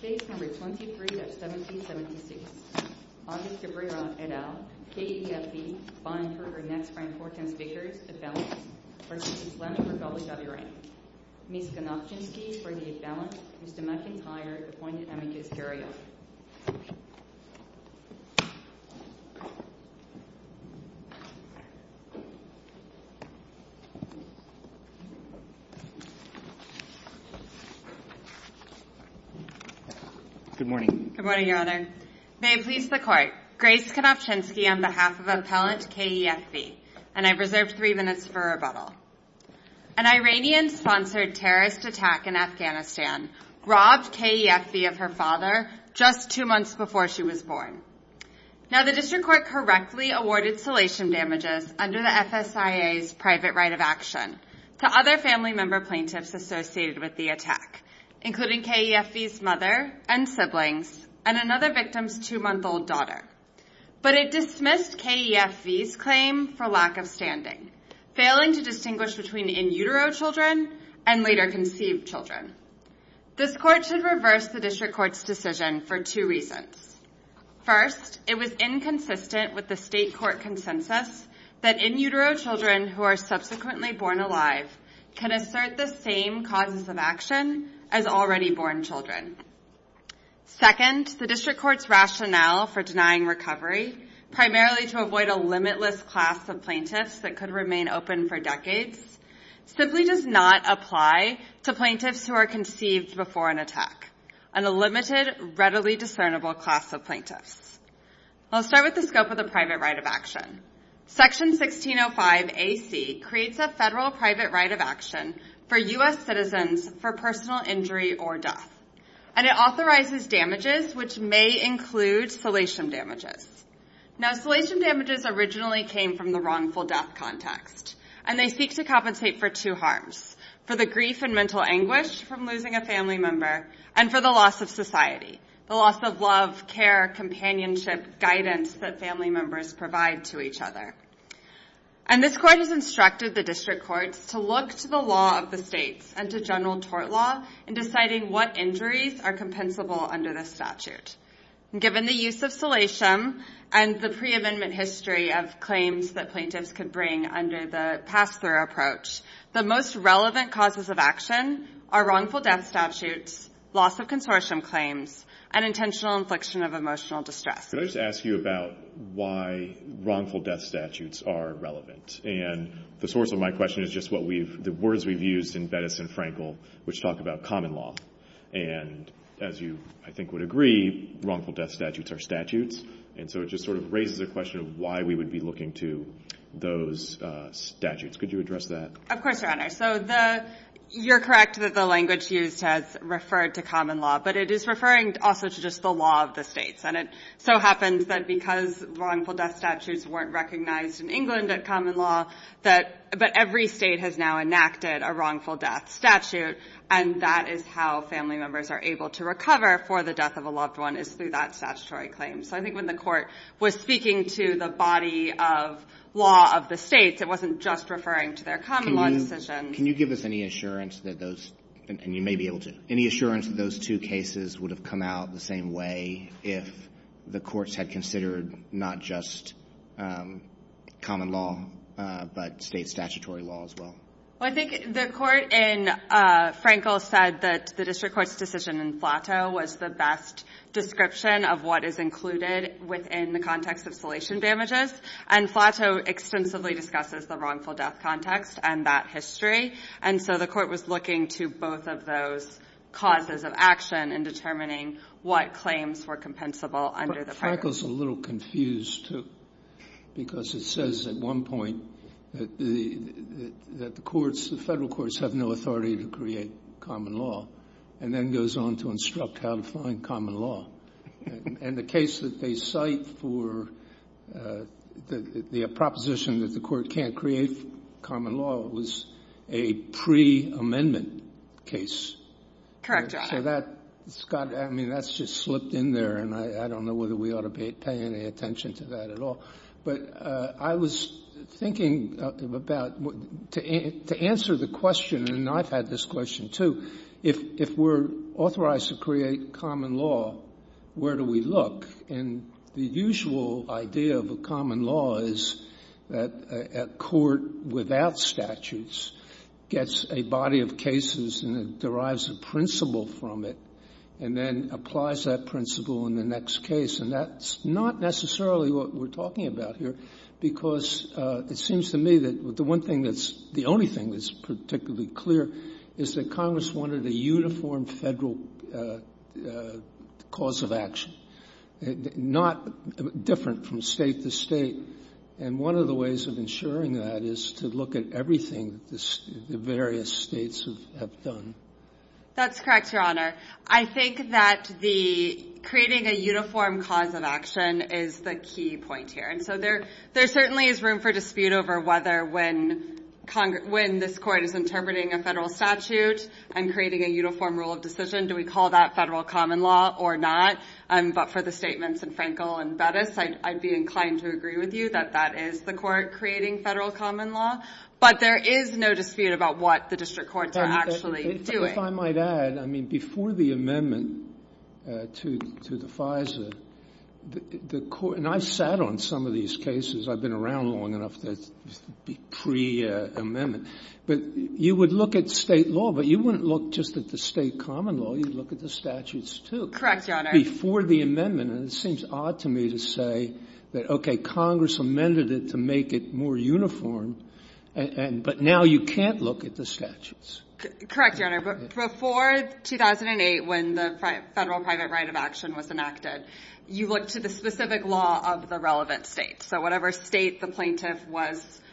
Case No. 23-1776 Audrey Cabrera et al. K.E.F.B. fined for her next-ranked four-tenths victories at balance versus Islamic Republic of Iran Ms. Konopchinsky for the at-balance Mr. McIntyre appointed amicus garyot Good morning, your honor. May it please the court, Grace Konopchinsky on behalf of appellant K.E.F.B. and I've reserved three minutes for rebuttal. An Iranian-sponsored terrorist attack in Afghanistan robbed K.E.F.B. of her father just two months before she was born. Now the district court correctly awarded salation damages under the FSIA's private right of action to other family member plaintiffs associated with the attack including K.E.F.B.'s mother and siblings and another victim's two-month-old daughter. But it dismissed K.E.F.B.'s claim for lack of standing failing to distinguish between in-utero children and later conceived children. This court should reverse the district court's decision for two reasons. First, it was inconsistent with the state court consensus that in-utero children who are subsequently born alive can assert the same causes of action as already born children. Second, the district court's rationale for denying recovery primarily to avoid a limitless class of plaintiffs that could remain open for decades simply does not apply to plaintiffs who are conceived before an attack and a limited, readily discernible class of plaintiffs. I'll start with the scope of the private right of action. Section 1605AC creates a federal private right of action for U.S. citizens for personal injury or death and it authorizes damages which may include salation damages. Now salation damages originally came from the wrongful death context and they seek to compensate for two harms for the grief and mental anguish from losing a family member and for the loss of society, the loss of love, care, companionship, guidance that family members provide to each other. And this court has instructed the district courts to look to the law of the states and to general tort law in deciding what injuries are compensable under this statute. Given the use of salation and the pre-amendment history of claims that plaintiffs could bring under the pass-through approach, the most relevant causes of action are wrongful death statutes, loss of consortium claims, and intentional infliction of emotional distress. Could I just ask you about why wrongful death statutes are relevant? And the source of my question is just the words we've used in Bettis and Frankel which talk about common law. And as you, I think, would agree, wrongful death statutes are statutes and so it just sort of raises a question of why we would be looking to those statutes. Could you address that? Of course, Your Honor. So you're correct that the language used has referred to common law, but it is referring also to just the law of the states and it so happens that because wrongful death statutes weren't recognized in England at common law, that every state has now enacted a wrongful death statute and that is how family members are able to recover for the death of a loved one, is through that statutory claim. So I think when the Court was speaking to the body of law of the states, it wasn't just referring to their common law decision. Can you give us any assurance that those, and you may be able to, any assurance that those two cases would have come out the same way if the courts had considered not just common law, but state statutory law as well? Well, I think the Court in Frankel said that the district court's decision in Flato was the best description of what is included within the context of salation damages and Flato extensively discusses the wrongful death context and that history. And so the Court was looking to both of those causes of action in determining what claims were compensable under the practice. But Frankel's a little confused, too, because it says at one point that the courts, the Federal courts have no authority to create common law and then goes on to instruct how to find common law. And the case that they cite for the proposition that the Court can't create common law was a pre-amendment case. Correct, Your Honor. So that's got to be, I mean, that's just slipped in there and I don't know whether we ought to pay any attention to that at all. But I was thinking about, to answer the question, and I've had this question, too, if we're authorized to create common law, where do we look? And the usual idea of a common law is that a court without statutes gets a body of cases and it derives a principle from it and then applies that principle in the next case. And that's not necessarily what we're talking about here, because it seems to me that the one thing that's the only thing that's particularly clear is that Congress wanted a uniform Federal cause of action, not different from State to State. And one of the ways of ensuring that is to look at everything the various States have done. That's correct, Your Honor. I think that the creating a uniform cause of action is the key point here. And so there certainly is room for dispute over whether when this Court is interpreting a Federal statute and creating a uniform rule of decision, do we call that Federal common law or not. But for the statements in Frankel and Bettis, I'd be inclined to agree with you that that is the Court creating Federal common law. But there is no dispute about what the district courts are actually doing. If I might add, I mean, before the amendment to the FISA, the Court — and I've sat on some of these cases. I've been around long enough to be pre-amendment. But you would look at State law, but you wouldn't look just at the State common law. You'd look at the statutes, too. Correct, Your Honor. Before the amendment. And it seems odd to me to say that, okay, Congress amended it to make it more uniform, but now you can't look at the statutes. Correct, Your Honor. But before 2008, when the Federal private right of action was enacted, you looked to the specific law of the relevant State. So whatever State the plaintiff was —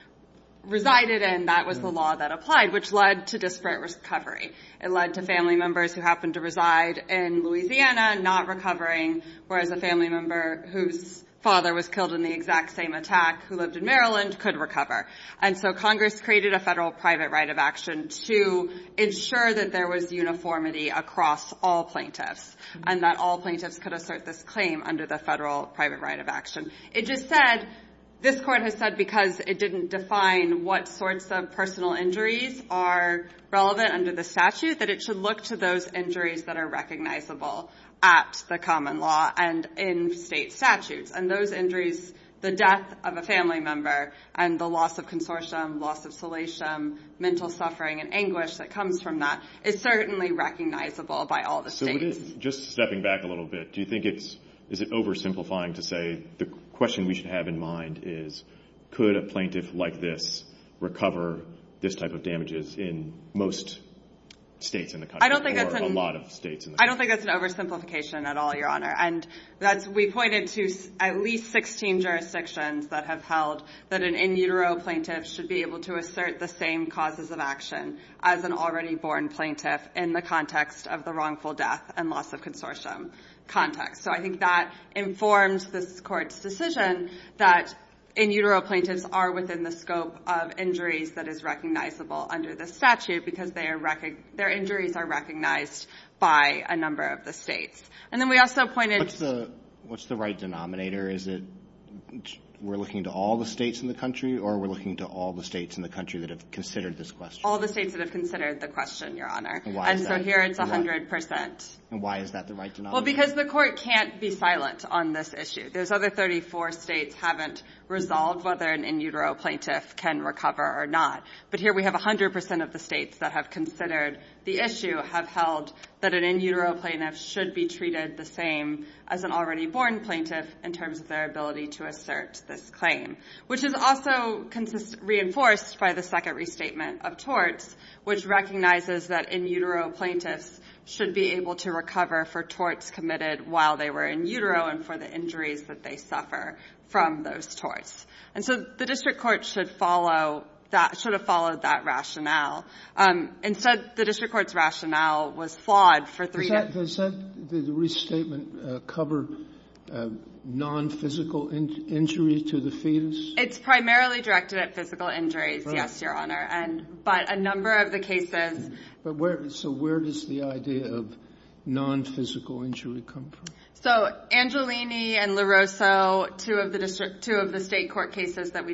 resided in, that was the law that applied, which led to disparate recovery. It led to family members who happened to reside in Louisiana not recovering, whereas a family member whose father was killed in the exact same attack who lived in Maryland could recover. And so Congress created a Federal private right of action to ensure that there was uniformity across all plaintiffs and that all plaintiffs could assert this claim under the Federal private right of action. It just said — this Court has said because it didn't define what sorts of personal injuries are relevant under the statute, that it should look to those injuries that are recognizable at the common law and in State statutes. And those injuries — the death of a family member and the loss of consortium, loss of solation, mental suffering and anguish that comes from that is certainly recognizable by all the States. So just stepping back a little bit, do you think it's — is it oversimplifying to say the question we should have in mind is could a plaintiff like this recover this type of damages in most States in the country or a lot of States in the country? I don't think that's an oversimplification at all, Your Honor. And we pointed to at least 16 jurisdictions that have held that an in utero plaintiff should be able to assert the same causes of action as an already born plaintiff in the context of the wrongful death and loss of consortium context. So I think that informs this Court's decision that in utero plaintiffs are within the scope of injuries that is recognizable under the statute because their injuries are recognized by a number of the States. And then we also pointed — What's the right denominator? Is it we're looking to all the States in the country or we're looking to all the States in the country that have considered this question? All the States that have considered the question, Your Honor. And why is that? And so here it's 100 percent. And why is that the right denominator? Well, because the Court can't be silent on this issue. Those other 34 States haven't resolved whether an in utero plaintiff can recover or not. But here we have 100 percent of the States that have considered the issue have held that an in utero plaintiff should be treated the same as an already born plaintiff in terms of their ability to assert this claim, which is also reinforced by the second restatement of torts, which recognizes that in utero plaintiffs should be able to recover for torts committed while they were in utero and for the injuries that they suffer from those torts. And so the district court should follow that — should have followed that rationale. Instead, the district court's rationale was flawed for three — Does that — does that — did the restatement cover nonphysical injury to the fetus? It's primarily directed at physical injuries, yes, Your Honor. And — but a number of the cases — But where — so where does the idea of nonphysical injury come from? So Angelini and LaRosso, two of the district — two of the state court cases that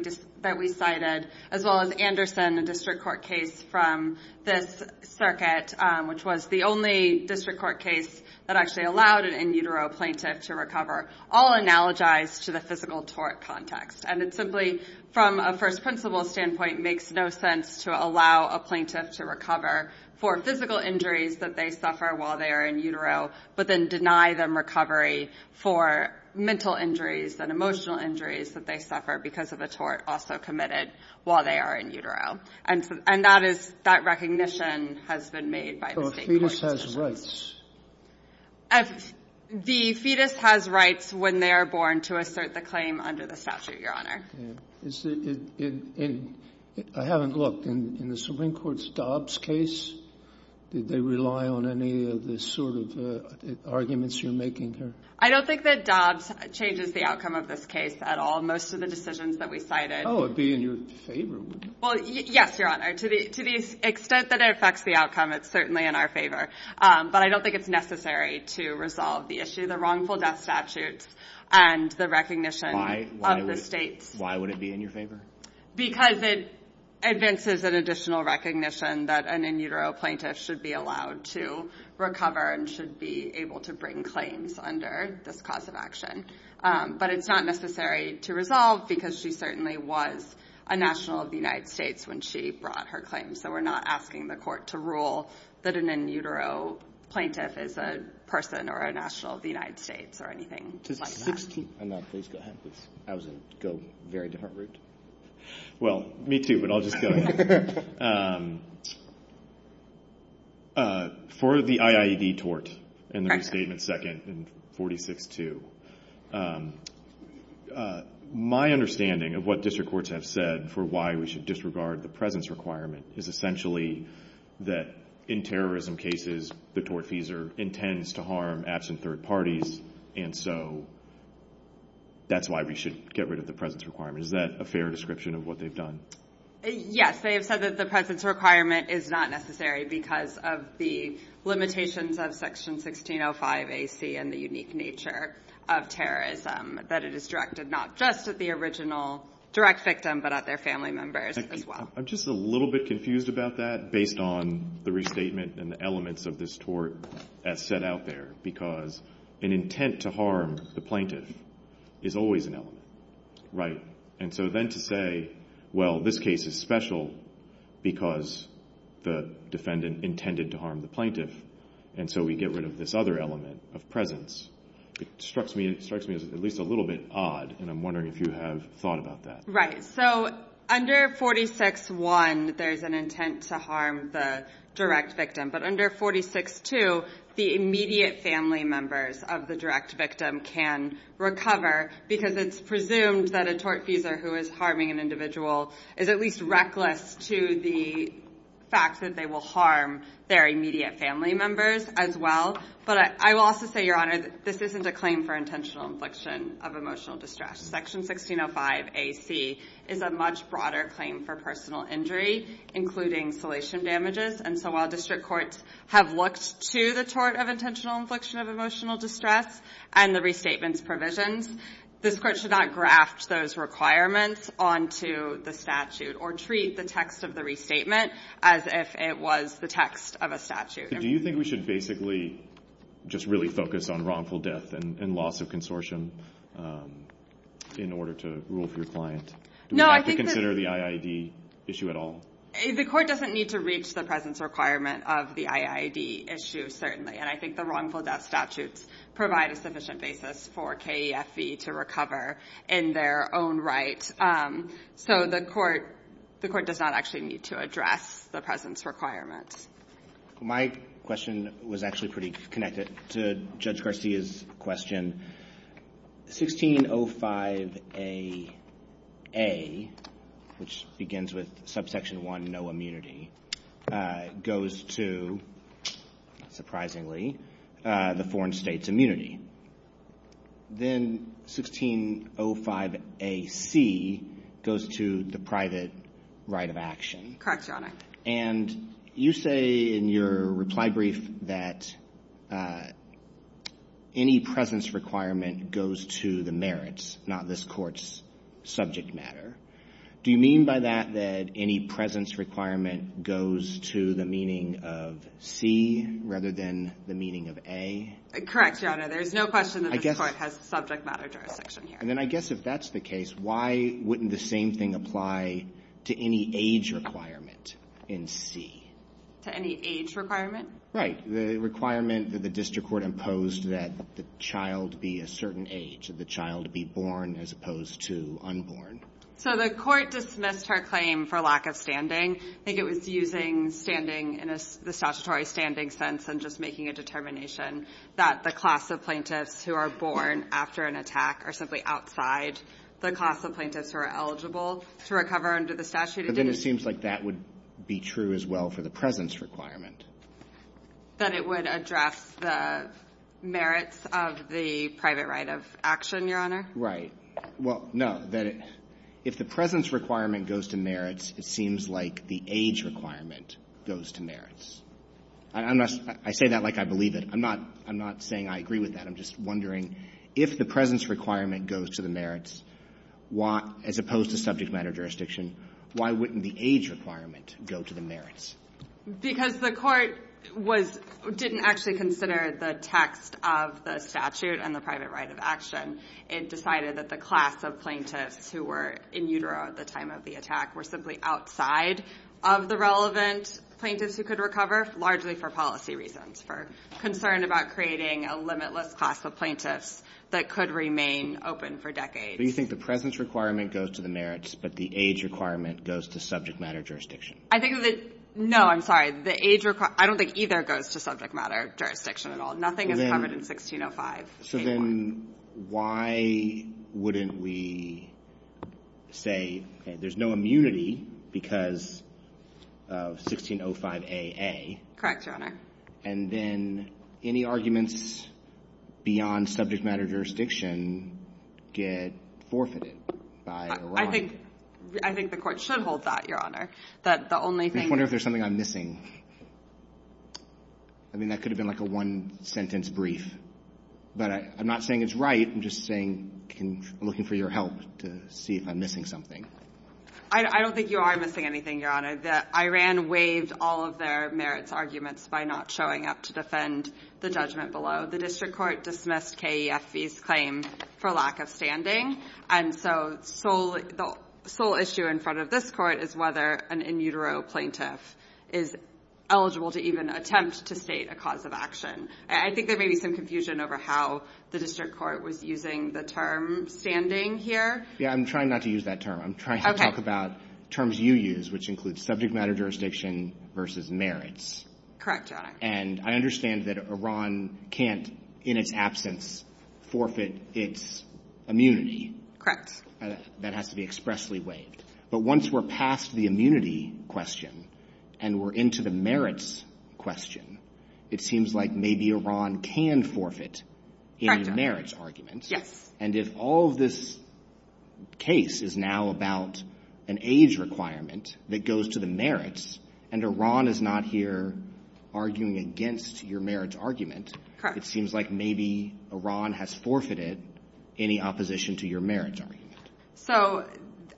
we cited, as well as Anderson, a district court case from this circuit, which was the only district court case that actually allowed an in utero plaintiff to recover, all analogized to the physical tort context. And it simply, from a first principle standpoint, makes no sense to allow a plaintiff to recover for physical injuries that they suffer while they are in utero, but then deny them recovery for mental injuries and emotional injuries that they suffer because of a tort also committed while they are in utero. And that is — that recognition has been made by the state court. So a fetus has rights? The fetus has rights when they are born to assert the claim under the statute, Your Honor. I haven't looked. In the Supreme Court's Dobbs case, did they rely on any of the sort of arguments you're making here? I don't think that Dobbs changes the outcome of this case at all. Most of the decisions that we cited — Oh, it would be in your favor, wouldn't it? Well, yes, Your Honor. To the extent that it affects the outcome, it's certainly in our favor. But I don't think it's necessary to resolve the issue. Why would it be in your favor? Because it advances an additional recognition that an in utero plaintiff should be allowed to recover and should be able to bring claims under this cause of action. But it's not necessary to resolve because she certainly was a national of the United States when she brought her claims. So we're not asking the court to rule that an in utero plaintiff is a person or a national of the United States or anything like that. I was going to go a very different route. Well, me too, but I'll just go ahead. For the IIED tort and the restatement second in 46-2, my understanding of what district courts have said for why we should disregard the presence requirement is essentially that in terrorism cases, the tortfeasor intends to harm absent third parties, and so that's why we should get rid of the presence requirement. Is that a fair description of what they've done? Yes. They have said that the presence requirement is not necessary because of the limitations of Section 1605 AC and the unique nature of terrorism, that it is directed not just at the original direct victim, but at their family members as well. I'm just a little bit confused about that based on the restatement and the elements of this tort as set out there, because an intent to harm the plaintiff is always an element, right? And so then to say, well, this case is special because the defendant intended to harm the plaintiff, and so we get rid of this other element of presence, it strikes me as at least a little bit odd, and I'm wondering if you have thought about that. Right. So under 46-1, there's an intent to harm the direct victim, but under 46-2, the immediate family members of the direct victim can recover, because it's presumed that a tortfeasor who is harming an individual is at least reckless to the fact that they will harm their immediate family members as well. But I will also say, Your Honor, this isn't a claim for intentional infliction of emotional distress. Section 1605AC is a much broader claim for personal injury, including salation damages, and so while district courts have looked to the tort of intentional infliction of emotional distress and the restatement's provisions, this Court should not graft those requirements onto the statute or treat the text of the restatement as if it was the text of a statute. Do you think we should basically just really focus on wrongful death and loss of consortium in order to rule for your client? Do we have to consider the IID issue at all? The Court doesn't need to reach the presence requirement of the IID issue, and I think the wrongful death statutes provide a sufficient basis for KEFE to recover in their own right. So the Court does not actually need to address the presence requirement. My question was actually pretty connected to Judge Garcia's question. 1605AA, which begins with subsection 1, no immunity, goes to, surprisingly, the foreign state's immunity. Then 1605AC goes to the private right of action. Correct, Your Honor. And you say in your reply brief that any presence requirement goes to the merits, not this Court's subject matter. Do you mean by that that any presence requirement goes to the meaning of C rather than the meaning of A? Correct, Your Honor. There's no question that this Court has subject matter jurisdiction here. Then I guess if that's the case, why wouldn't the same thing apply to any age requirement in C? To any age requirement? Right. The requirement that the district court imposed that the child be a certain age, that the child be born as opposed to unborn. So the Court dismissed her claim for lack of standing. I think it was using standing in the statutory standing sense and just making a determination that the class of plaintiffs who are born after an attack are simply outside the class of plaintiffs who are eligible to recover under the statute. But then it seems like that would be true as well for the presence requirement. That it would address the merits of the private right of action, Your Honor? Right. Well, no. If the presence requirement goes to merits, it seems like the age requirement goes to merits. I say that like I believe it. I'm not saying I agree with that. I'm just wondering if the presence requirement goes to the merits, as opposed to subject matter jurisdiction, why wouldn't the age requirement go to the merits? Because the Court didn't actually consider the text of the statute and the private right of action. It decided that the class of plaintiffs who were in utero at the time of the attack were simply outside of the relevant plaintiffs who could recover, largely for policy reasons, for concern about creating a limitless class of plaintiffs that could remain open for decades. But you think the presence requirement goes to the merits, but the age requirement goes to subject matter jurisdiction? I think that the – no, I'm sorry. The age – I don't think either goes to subject matter jurisdiction at all. Nothing is covered in 1605-A-1. So then why wouldn't we say, okay, there's no immunity because of 1605-A-A. Correct, Your Honor. And then any arguments beyond subject matter jurisdiction get forfeited by Iran. I think the Court should hold that, Your Honor, that the only thing – I just wonder if there's something I'm missing. I mean, that could have been like a one-sentence brief. But I'm not saying it's right. I'm just saying I'm looking for your help to see if I'm missing something. I don't think you are missing anything, Your Honor. Iran waived all of their merits arguments by not showing up to defend the judgment below. The district court dismissed KEFB's claim for lack of standing. And so the sole issue in front of this Court is whether an in utero plaintiff is eligible to even attempt to state a cause of action. I think there may be some confusion over how the district court was using the term standing here. Yeah, I'm trying not to use that term. Okay. I'm trying to talk about terms you use, which include subject matter jurisdiction versus merits. Correct, Your Honor. And I understand that Iran can't, in its absence, forfeit its immunity. Correct. That has to be expressly waived. But once we're past the immunity question and we're into the merits question, it seems like maybe Iran can forfeit any merits arguments. Yes. And if all of this case is now about an age requirement that goes to the merits and Iran is not here arguing against your merits argument, it seems like maybe Iran has forfeited any opposition to your merits argument. So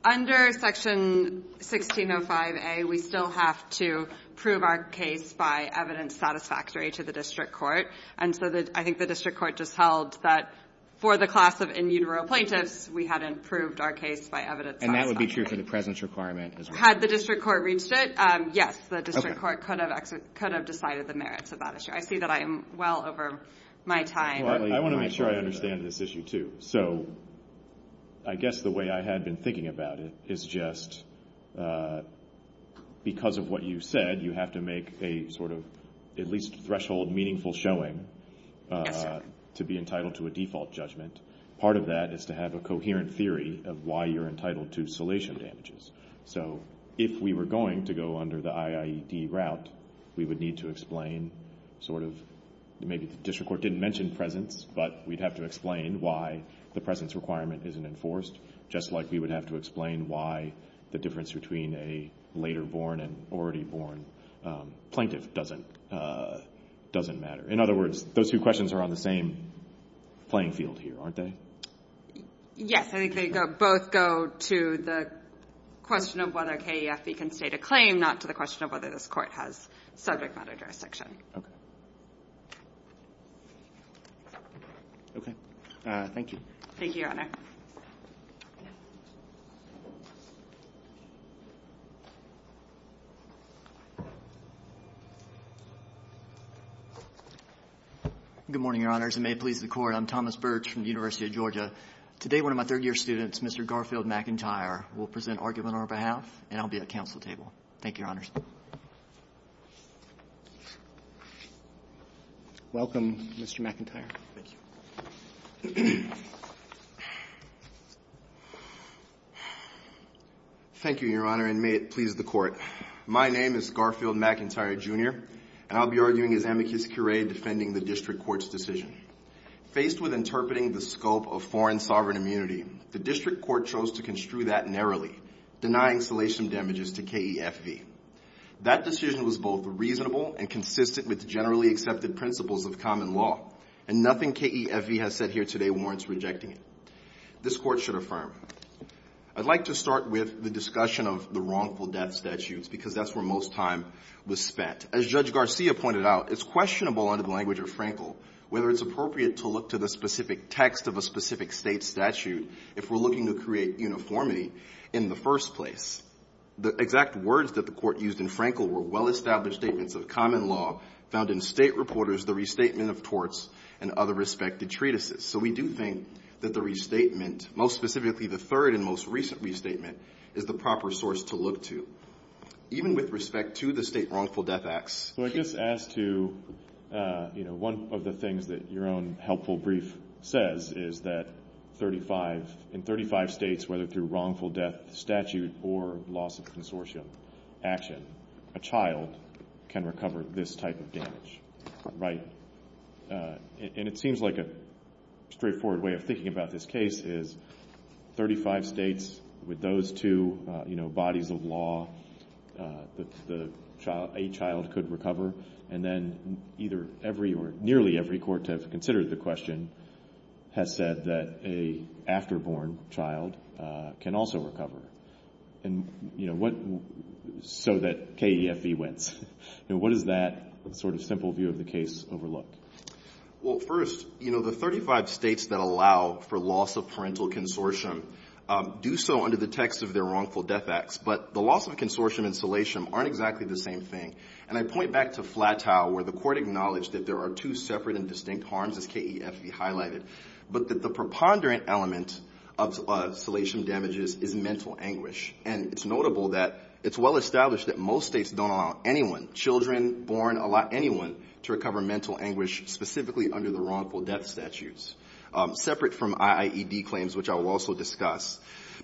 under Section 1605a, we still have to prove our case by evidence satisfactory to the district court. And so I think the district court just held that for the class of in utero plaintiffs, we hadn't proved our case by evidence satisfactory. And that would be true for the presence requirement as well. Had the district court reached it, yes, the district court could have decided the merits of that issue. I see that I am well over my time. I want to make sure I understand this issue, too. So I guess the way I had been thinking about it is just because of what you said, you have to make a sort of at least threshold meaningful showing to be entitled to a default judgment. Part of that is to have a coherent theory of why you're entitled to salation damages. So if we were going to go under the IIED route, we would need to explain sort of maybe the district court didn't mention presence, but we'd have to explain why the presence requirement isn't enforced, just like we would have to explain why the difference between a later born and already born plaintiff doesn't matter. In other words, those two questions are on the same playing field here, aren't they? Yes. I think they both go to the question of whether KEFB can state a claim, not to the question of whether this court has subject matter jurisdiction. Okay. Okay. Thank you. Thank you, Your Honor. Good morning, Your Honors, and may it please the Court. I'm Thomas Birch from the University of Georgia. Today one of my third-year students, Mr. Garfield McIntyre, will present argument on our behalf, and I'll be at council table. Thank you, Your Honors. Welcome, Mr. McIntyre. Thank you. Thank you, Your Honor, and may it please the Court. My name is Garfield McIntyre, Jr., and I'll be arguing as amicus curiae defending the district court's decision. Faced with interpreting the scope of foreign sovereign immunity, the district court chose to construe that narrowly, denying salation damages to KEFB. That decision was both reasonable and consistent with generally accepted principles of common law and nothing KEFB has said here today warrants rejecting it. This Court should affirm. I'd like to start with the discussion of the wrongful death statutes because that's where most time was spent. As Judge Garcia pointed out, it's questionable under the language of Frankel whether it's appropriate to look to the specific text of a specific state statute if we're looking to create uniformity in the first place. The exact words that the Court used in Frankel were well-established statements of common law found in state reporters, the restatement of torts, and other respected treatises. So we do think that the restatement, most specifically the third and most recent restatement, is the proper source to look to, even with respect to the state wrongful death acts. Well, I guess as to, you know, one of the things that your own helpful brief says is that in 35 states, whether through wrongful death statute or loss of consortium action, a child can recover this type of damage, right? And it seems like a straightforward way of thinking about this case is 35 states with those two, you know, bodies of law, a child could recover. And then either every or nearly every court to have considered the question has said that an afterborn child can also recover. And, you know, so that KEFE wins. You know, what does that sort of simple view of the case overlook? Well, first, you know, the 35 states that allow for loss of parental consortium do so under the text of their wrongful death acts, but the loss of consortium and salation aren't exactly the same thing. And I point back to Flatow, where the Court acknowledged that there are two separate and distinct harms, as KEFE highlighted, but that the preponderant element of salation damages is mental anguish. And it's notable that it's well established that most states don't allow anyone, children born, allow anyone to recover mental anguish specifically under the wrongful death statutes, separate from IIED claims, which I will also discuss.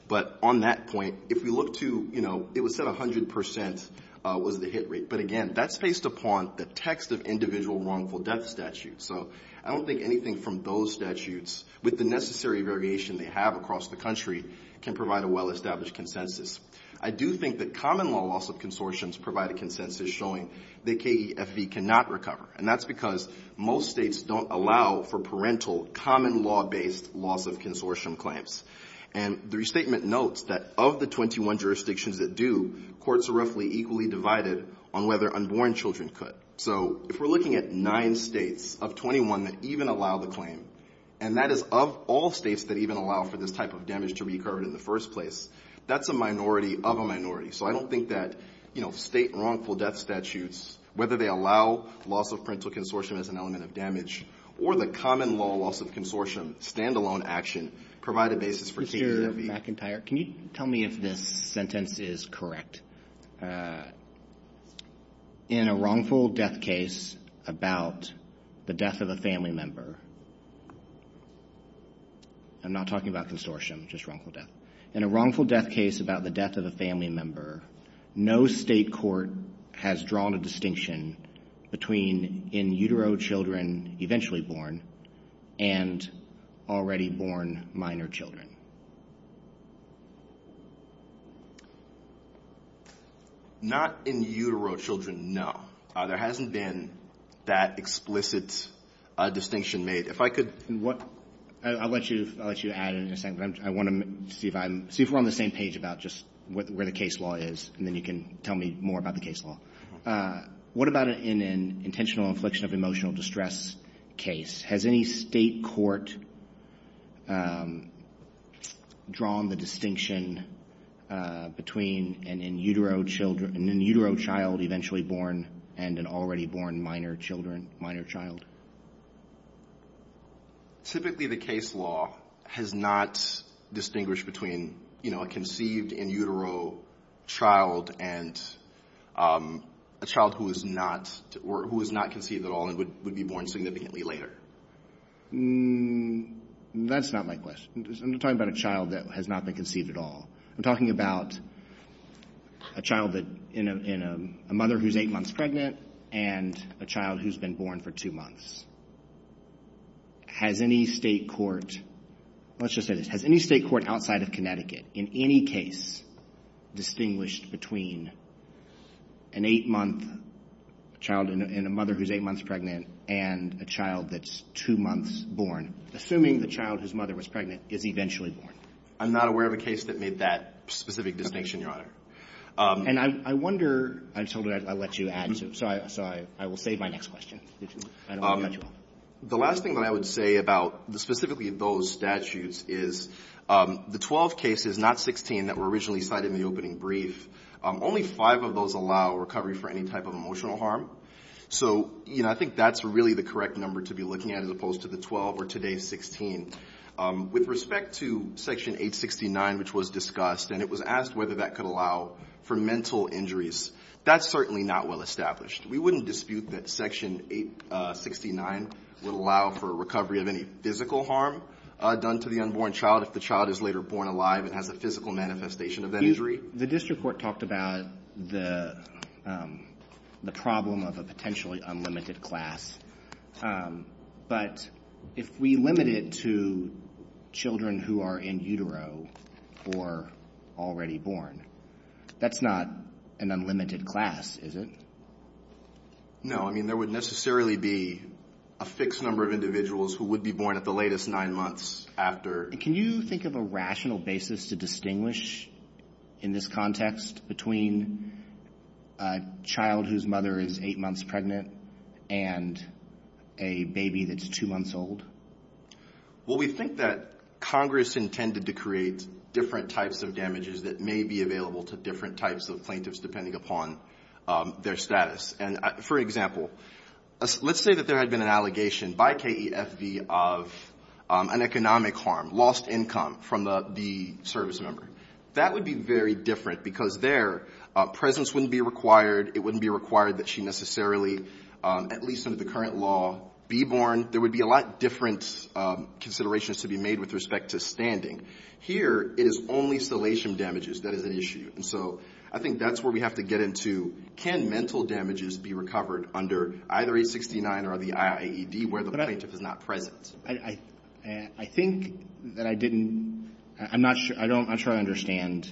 But on that point, if we look to, you know, it was said 100 percent was the hit rate. But, again, that's based upon the text of individual wrongful death statutes. So I don't think anything from those statutes, with the necessary variation they have across the country, can provide a well-established consensus. I do think that common law loss of consortiums provide a consensus showing that KEFE cannot recover, and that's because most states don't allow for parental, common law-based loss of consortium claims. And the restatement notes that of the 21 jurisdictions that do, courts are roughly equally divided on whether unborn children could. So if we're looking at nine states of 21 that even allow the claim, and that is of all states that even allow for this type of damage to be covered in the first place, that's a minority of a minority. So I don't think that, you know, state wrongful death statutes, whether they allow loss of parental consortium as an element of damage or the common law loss of consortium, stand-alone action, provide a basis for KEFE. Mr. McIntyre, can you tell me if this sentence is correct? In a wrongful death case about the death of a family member, I'm not talking about consortium, just wrongful death. In a wrongful death case about the death of a family member, no state court has drawn a distinction between in-utero children eventually born and already born minor children. Not in-utero children, no. There hasn't been that explicit distinction made. If I could... I'll let you add in a second, but I want to see if we're on the same page about just where the case law is, and then you can tell me more about the case law. What about in an intentional infliction of emotional distress case? Has any state court drawn the distinction between an in-utero child eventually born and an already born minor child? Typically, the case law has not distinguished between a conceived in-utero child and a child who is not conceived at all and would be born significantly later. That's not my question. I'm talking about a child that has not been conceived at all. I'm talking about a child in a mother who's 8 months pregnant and a child who's been born for 2 months. Has any state court... Let's just say this. Has any state court outside of Connecticut in any case distinguished between an 8-month child and a mother who's 8 months pregnant and a child that's 2 months born? Assuming the child whose mother was pregnant is eventually born. I'm not aware of a case that made that specific distinction, Your Honor. And I wonder... I told you I'd let you add to it, so I will save my next question. The last thing that I would say about specifically those statutes is the 12 cases, not 16, that were originally cited in the opening brief, only 5 of those allow recovery for any type of emotional harm. So, you know, I think that's really the correct number to be looking at as opposed to the 12 or today's 16. With respect to Section 869, which was discussed, and it was asked whether that could allow for mental injuries, that's certainly not well established. We wouldn't dispute that Section 869 would allow for recovery of any physical harm done to the unborn child if the child is later born alive and has a physical manifestation of that injury. The district court talked about the problem of a potentially unlimited class. But if we limit it to children who are in utero or already born, that's not an unlimited class, is it? No. I mean, there would necessarily be a fixed number of individuals who would be born at the latest 9 months after. Can you think of a rational basis to distinguish in this context between a child whose mother is 8 months pregnant and a baby that's 2 months old? Well, we think that Congress intended to create different types of damages that may be available to different types of plaintiffs depending upon their status. And, for example, let's say that there had been an allegation by KEFV of an economic harm, lost income from the service member. That would be very different because their presence wouldn't be required. It wouldn't be required that she necessarily, at least under the current law, be born. There would be a lot of different considerations to be made with respect to standing. Here, it is only salation damages that is at issue. And so I think that's where we have to get into can mental damages be recovered under either 869 or the IAED where the plaintiff is not present. I think that I didn't... I'm not sure I understand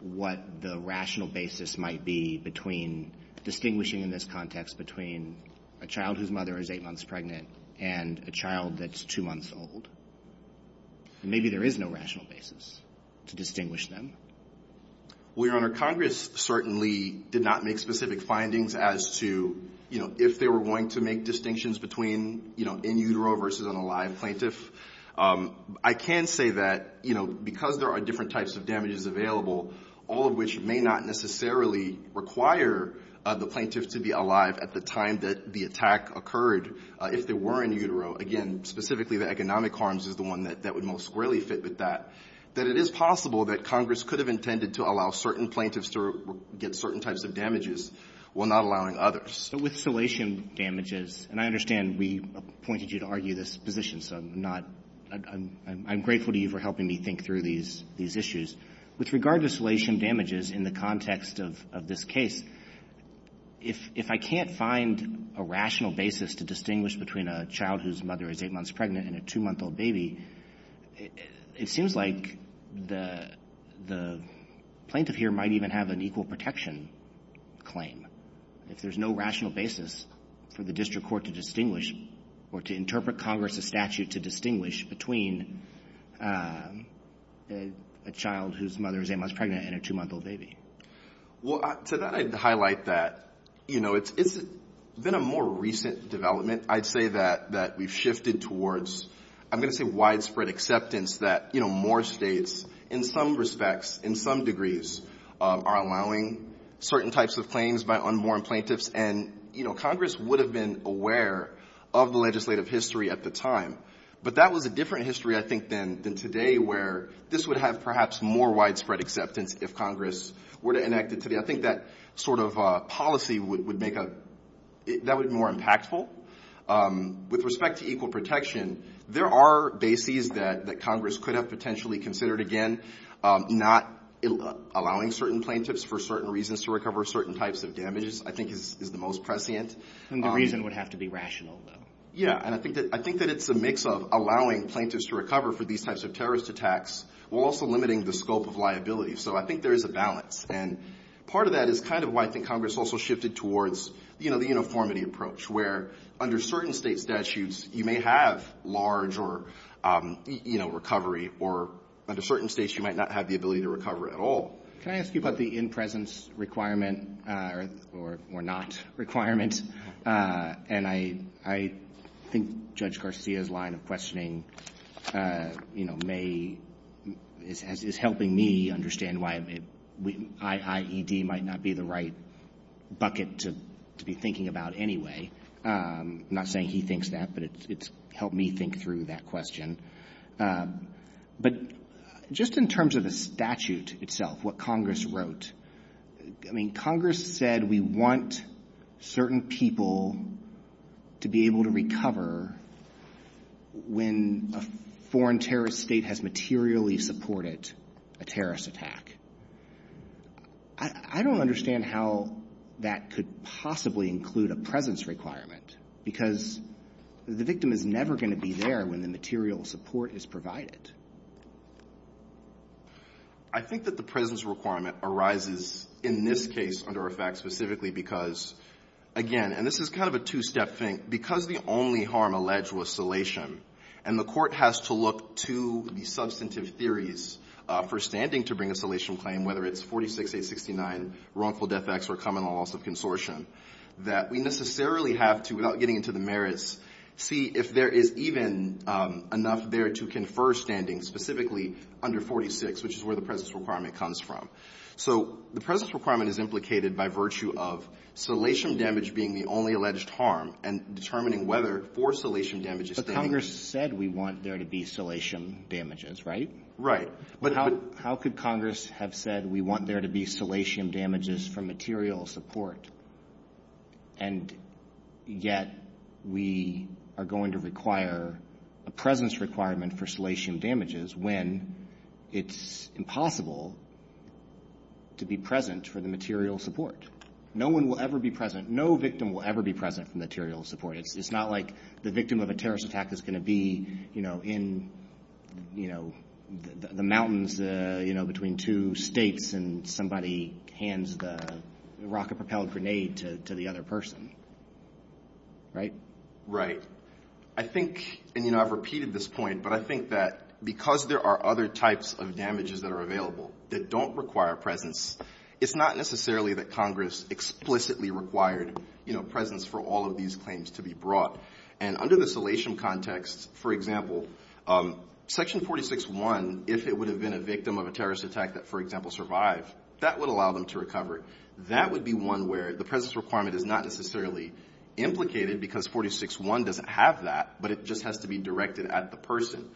what the rational basis might be between distinguishing in this context between a child whose mother is 8 months pregnant and a child that's 2 months old. Maybe there is no rational basis to distinguish them. Well, Your Honor, Congress certainly did not make specific findings as to, you know, if they were going to make distinctions between, you know, in utero versus an alive plaintiff. I can say that, you know, because there are different types of damages available, all of which may not necessarily require the plaintiff to be alive at the time that the attack occurred, if they were in utero. Again, specifically the economic harms is the one that would most squarely fit with that. That it is possible that Congress could have intended to allow certain plaintiffs to get certain types of damages while not allowing others. So with salation damages, and I understand we appointed you to argue this position, so I'm not — I'm grateful to you for helping me think through these issues. With regard to salation damages in the context of this case, if I can't find a rational basis to distinguish between a child whose mother is 8 months pregnant and a 2-month-old baby, it seems like the plaintiff here might even have an equal protection claim. If there's no rational basis for the district court to distinguish or to interpret Congress's statute to distinguish between a child whose mother is 8 months pregnant and a 2-month-old baby. Well, to that I'd highlight that, you know, it's been a more recent development. I'd say that we've shifted towards, I'm going to say widespread acceptance, that, you know, more states in some respects, in some degrees, are allowing certain types of claims by unborn plaintiffs. And, you know, Congress would have been aware of the legislative history at the time, but that was a different history, I think, than today, where this would have perhaps more widespread acceptance if Congress were to enact it today. I think that sort of policy would make a — that would be more impactful. With respect to equal protection, there are bases that Congress could have potentially considered again, not allowing certain plaintiffs for certain reasons to recover certain types of damages, I think, is the most prescient. And the reason would have to be rational, though. Yeah, and I think that it's a mix of allowing plaintiffs to recover for these types of terrorist attacks while also limiting the scope of liability. So I think there is a balance. And part of that is kind of why I think Congress also shifted towards, you know, the uniformity approach, where under certain state statutes, you may have large or, you know, recovery, or under certain states, you might not have the ability to recover at all. Can I ask you about the in-presence requirement or not requirement? And I think Judge Garcia's line of questioning, you know, may — is helping me understand why IED might not be the right bucket to be thinking about anyway. I'm not saying he thinks that, but it's helped me think through that question. But just in terms of the statute itself, what Congress wrote, I mean, Congress said we want certain people to be able to recover when a foreign terrorist state has materially supported a terrorist attack. I don't understand how that could possibly include a presence requirement, because the victim is never going to be there when the material support is provided. I think that the presence requirement arises in this case under effect specifically because, again — and this is kind of a two-step thing — because the only harm alleged was salation, and the Court has to look to the substantive theories for standing to bring a salation claim, whether it's 46-869, wrongful death acts, or common law loss of consortium, that we necessarily have to, without getting into the merits, see if there is even enough there to confer standing, specifically under 46, which is where the presence requirement comes from. So the presence requirement is implicated by virtue of salation damage being the only alleged harm and determining whether for salation damage is standing. But Congress said we want there to be salation damages, right? Right. How could Congress have said we want there to be salation damages for material support, and yet we are going to require a presence requirement for salation damages when it's impossible to be present for the material support? No one will ever be present. No victim will ever be present for material support. It's not like the victim of a terrorist attack is going to be, you know, in the mountains between two states and somebody hands the rocket-propelled grenade to the other person. Right? Right. I think — and, you know, I've repeated this point, but I think that because there are other types of damages that are available that don't require a presence, it's not necessarily that Congress explicitly required, you know, presence for all of these claims to be brought. And under the salation context, for example, Section 46.1, if it would have been a victim of a terrorist attack that, for example, survived, that would allow them to recover. That would be one where the presence requirement is not necessarily implicated because 46.1 doesn't have that, but it just has to be directed at the person.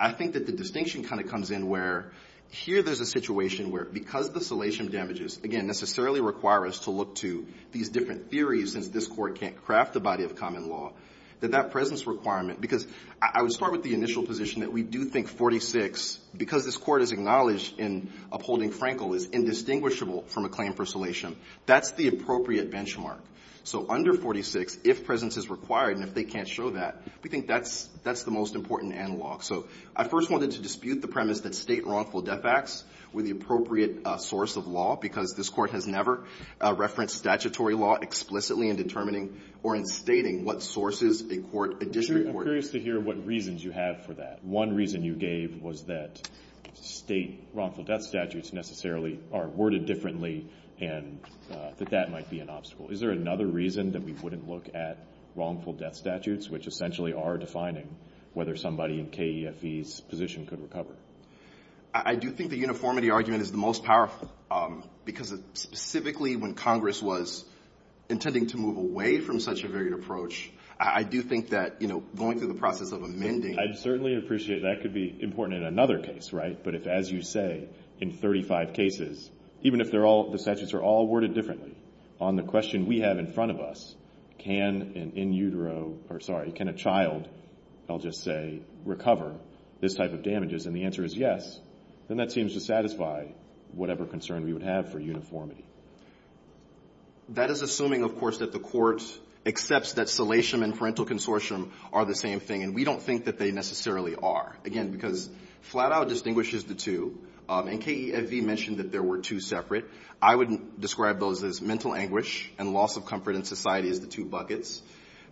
I think that the distinction kind of comes in where here there's a situation where because the salation damages, again, necessarily require us to look to these different theories since this Court can't craft a body of common law, that that presence requirement — because I would start with the initial position that we do think 46, because this Court has acknowledged in upholding Frankel, is indistinguishable from a claim for salation. That's the appropriate benchmark. So under 46, if presence is required and if they can't show that, we think that's the most important analog. So I first wanted to dispute the premise that State wrongful death acts were the appropriate source of law, because this Court has never referenced statutory law explicitly in determining or in stating what sources a court — a district court — I'm curious to hear what reasons you have for that. One reason you gave was that State wrongful death statutes necessarily are worded differently and that that might be an obstacle. Is there another reason that we wouldn't look at wrongful death statutes, which essentially are defining whether somebody in KEFE's position could recover? I do think the uniformity argument is the most powerful, because specifically when Congress was intending to move away from such a varied approach, I do think that, you know, going through the process of amending — I certainly appreciate that. That could be important in another case, right? But if, as you say, in 35 cases, even if they're all — the statutes are all worded differently, on the question we have in front of us, can an in utero — or, sorry, can a child, I'll just say, recover this type of damages? And the answer is yes. Then that seems to satisfy whatever concern we would have for uniformity. That is assuming, of course, that the court accepts that salation and parental consortium are the same thing, and we don't think that they necessarily are. Again, because Flatow distinguishes the two, and KEFE mentioned that there were two separate. I would describe those as mental anguish and loss of comfort in society as the two buckets.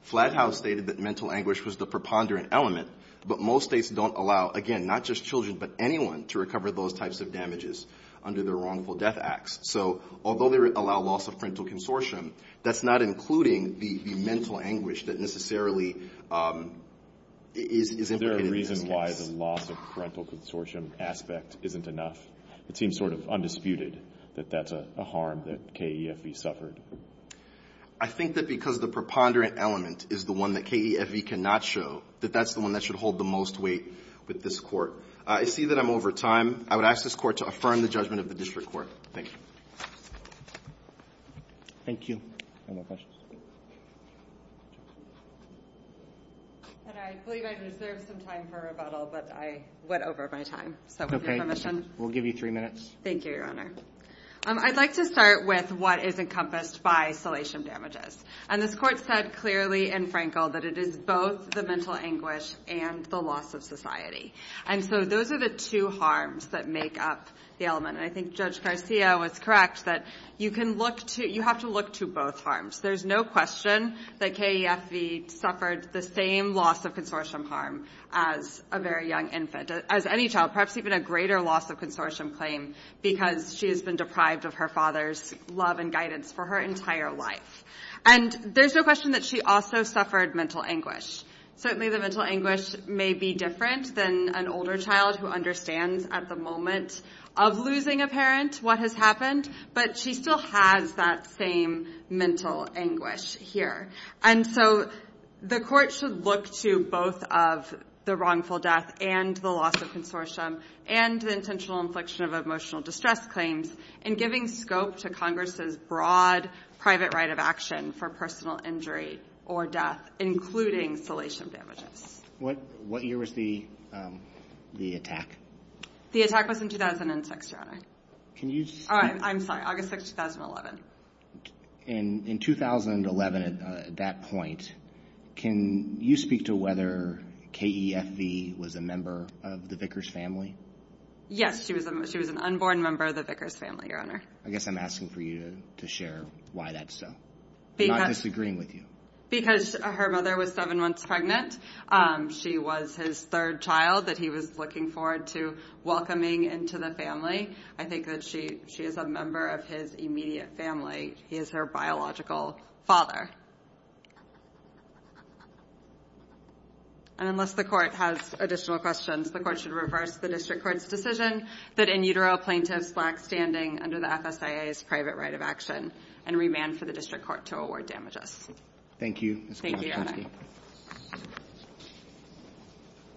Flatow stated that mental anguish was the preponderant element, but most states don't allow, again, not just children, but anyone to recover those types of damages under their wrongful death acts. So although they allow loss of parental consortium, that's not including the mental anguish that necessarily is implicated in this case. Is there a reason why the loss of parental consortium aspect isn't enough? It seems sort of undisputed that that's a harm that KEFE suffered. I think that because the preponderant element is the one that KEFE cannot show, that that's the one that should hold the most weight with this court. I see that I'm over time. I would ask this court to affirm the judgment of the district court. Thank you. Thank you. Any more questions? I believe I deserve some time for rebuttal, but I went over my time. So with your permission. We'll give you three minutes. Thank you, Your Honor. I'd like to start with what is encompassed by salation damages. And this Court said clearly and frankly that it is both the mental anguish and the loss of society. And so those are the two harms that make up the element. And I think Judge Garcia was correct that you can look to you have to look to both harms. There's no question that KEFE suffered the same loss of consortium harm as a very young infant, as any child, perhaps even a greater loss of consortium claim because she has been deprived of her father's love and guidance for her entire life. And there's no question that she also suffered mental anguish. Certainly the mental anguish may be different than an older child who understands at the moment of losing a parent what has happened. But she still has that same mental anguish here. And so the court should look to both of the wrongful death and the loss of claims in giving scope to Congress's broad private right of action for personal injury or death, including salation damages. What year was the attack? The attack was in 2006, Your Honor. I'm sorry, August 6, 2011. In 2011 at that point, can you speak to whether KEFE was a member of the Vickers family? Yes, she was an unborn member of the Vickers family, Your Honor. I guess I'm asking for you to share why that's so. I'm not disagreeing with you. Because her mother was seven months pregnant. She was his third child that he was looking forward to welcoming into the family. I think that she is a member of his immediate family. He is her biological father. And unless the court has additional questions, the court should reverse the district court's decision that in utero plaintiffs lack standing under the FSIA's private right of action and remand for the district court to award damages. Thank you, Ms. Kowalski.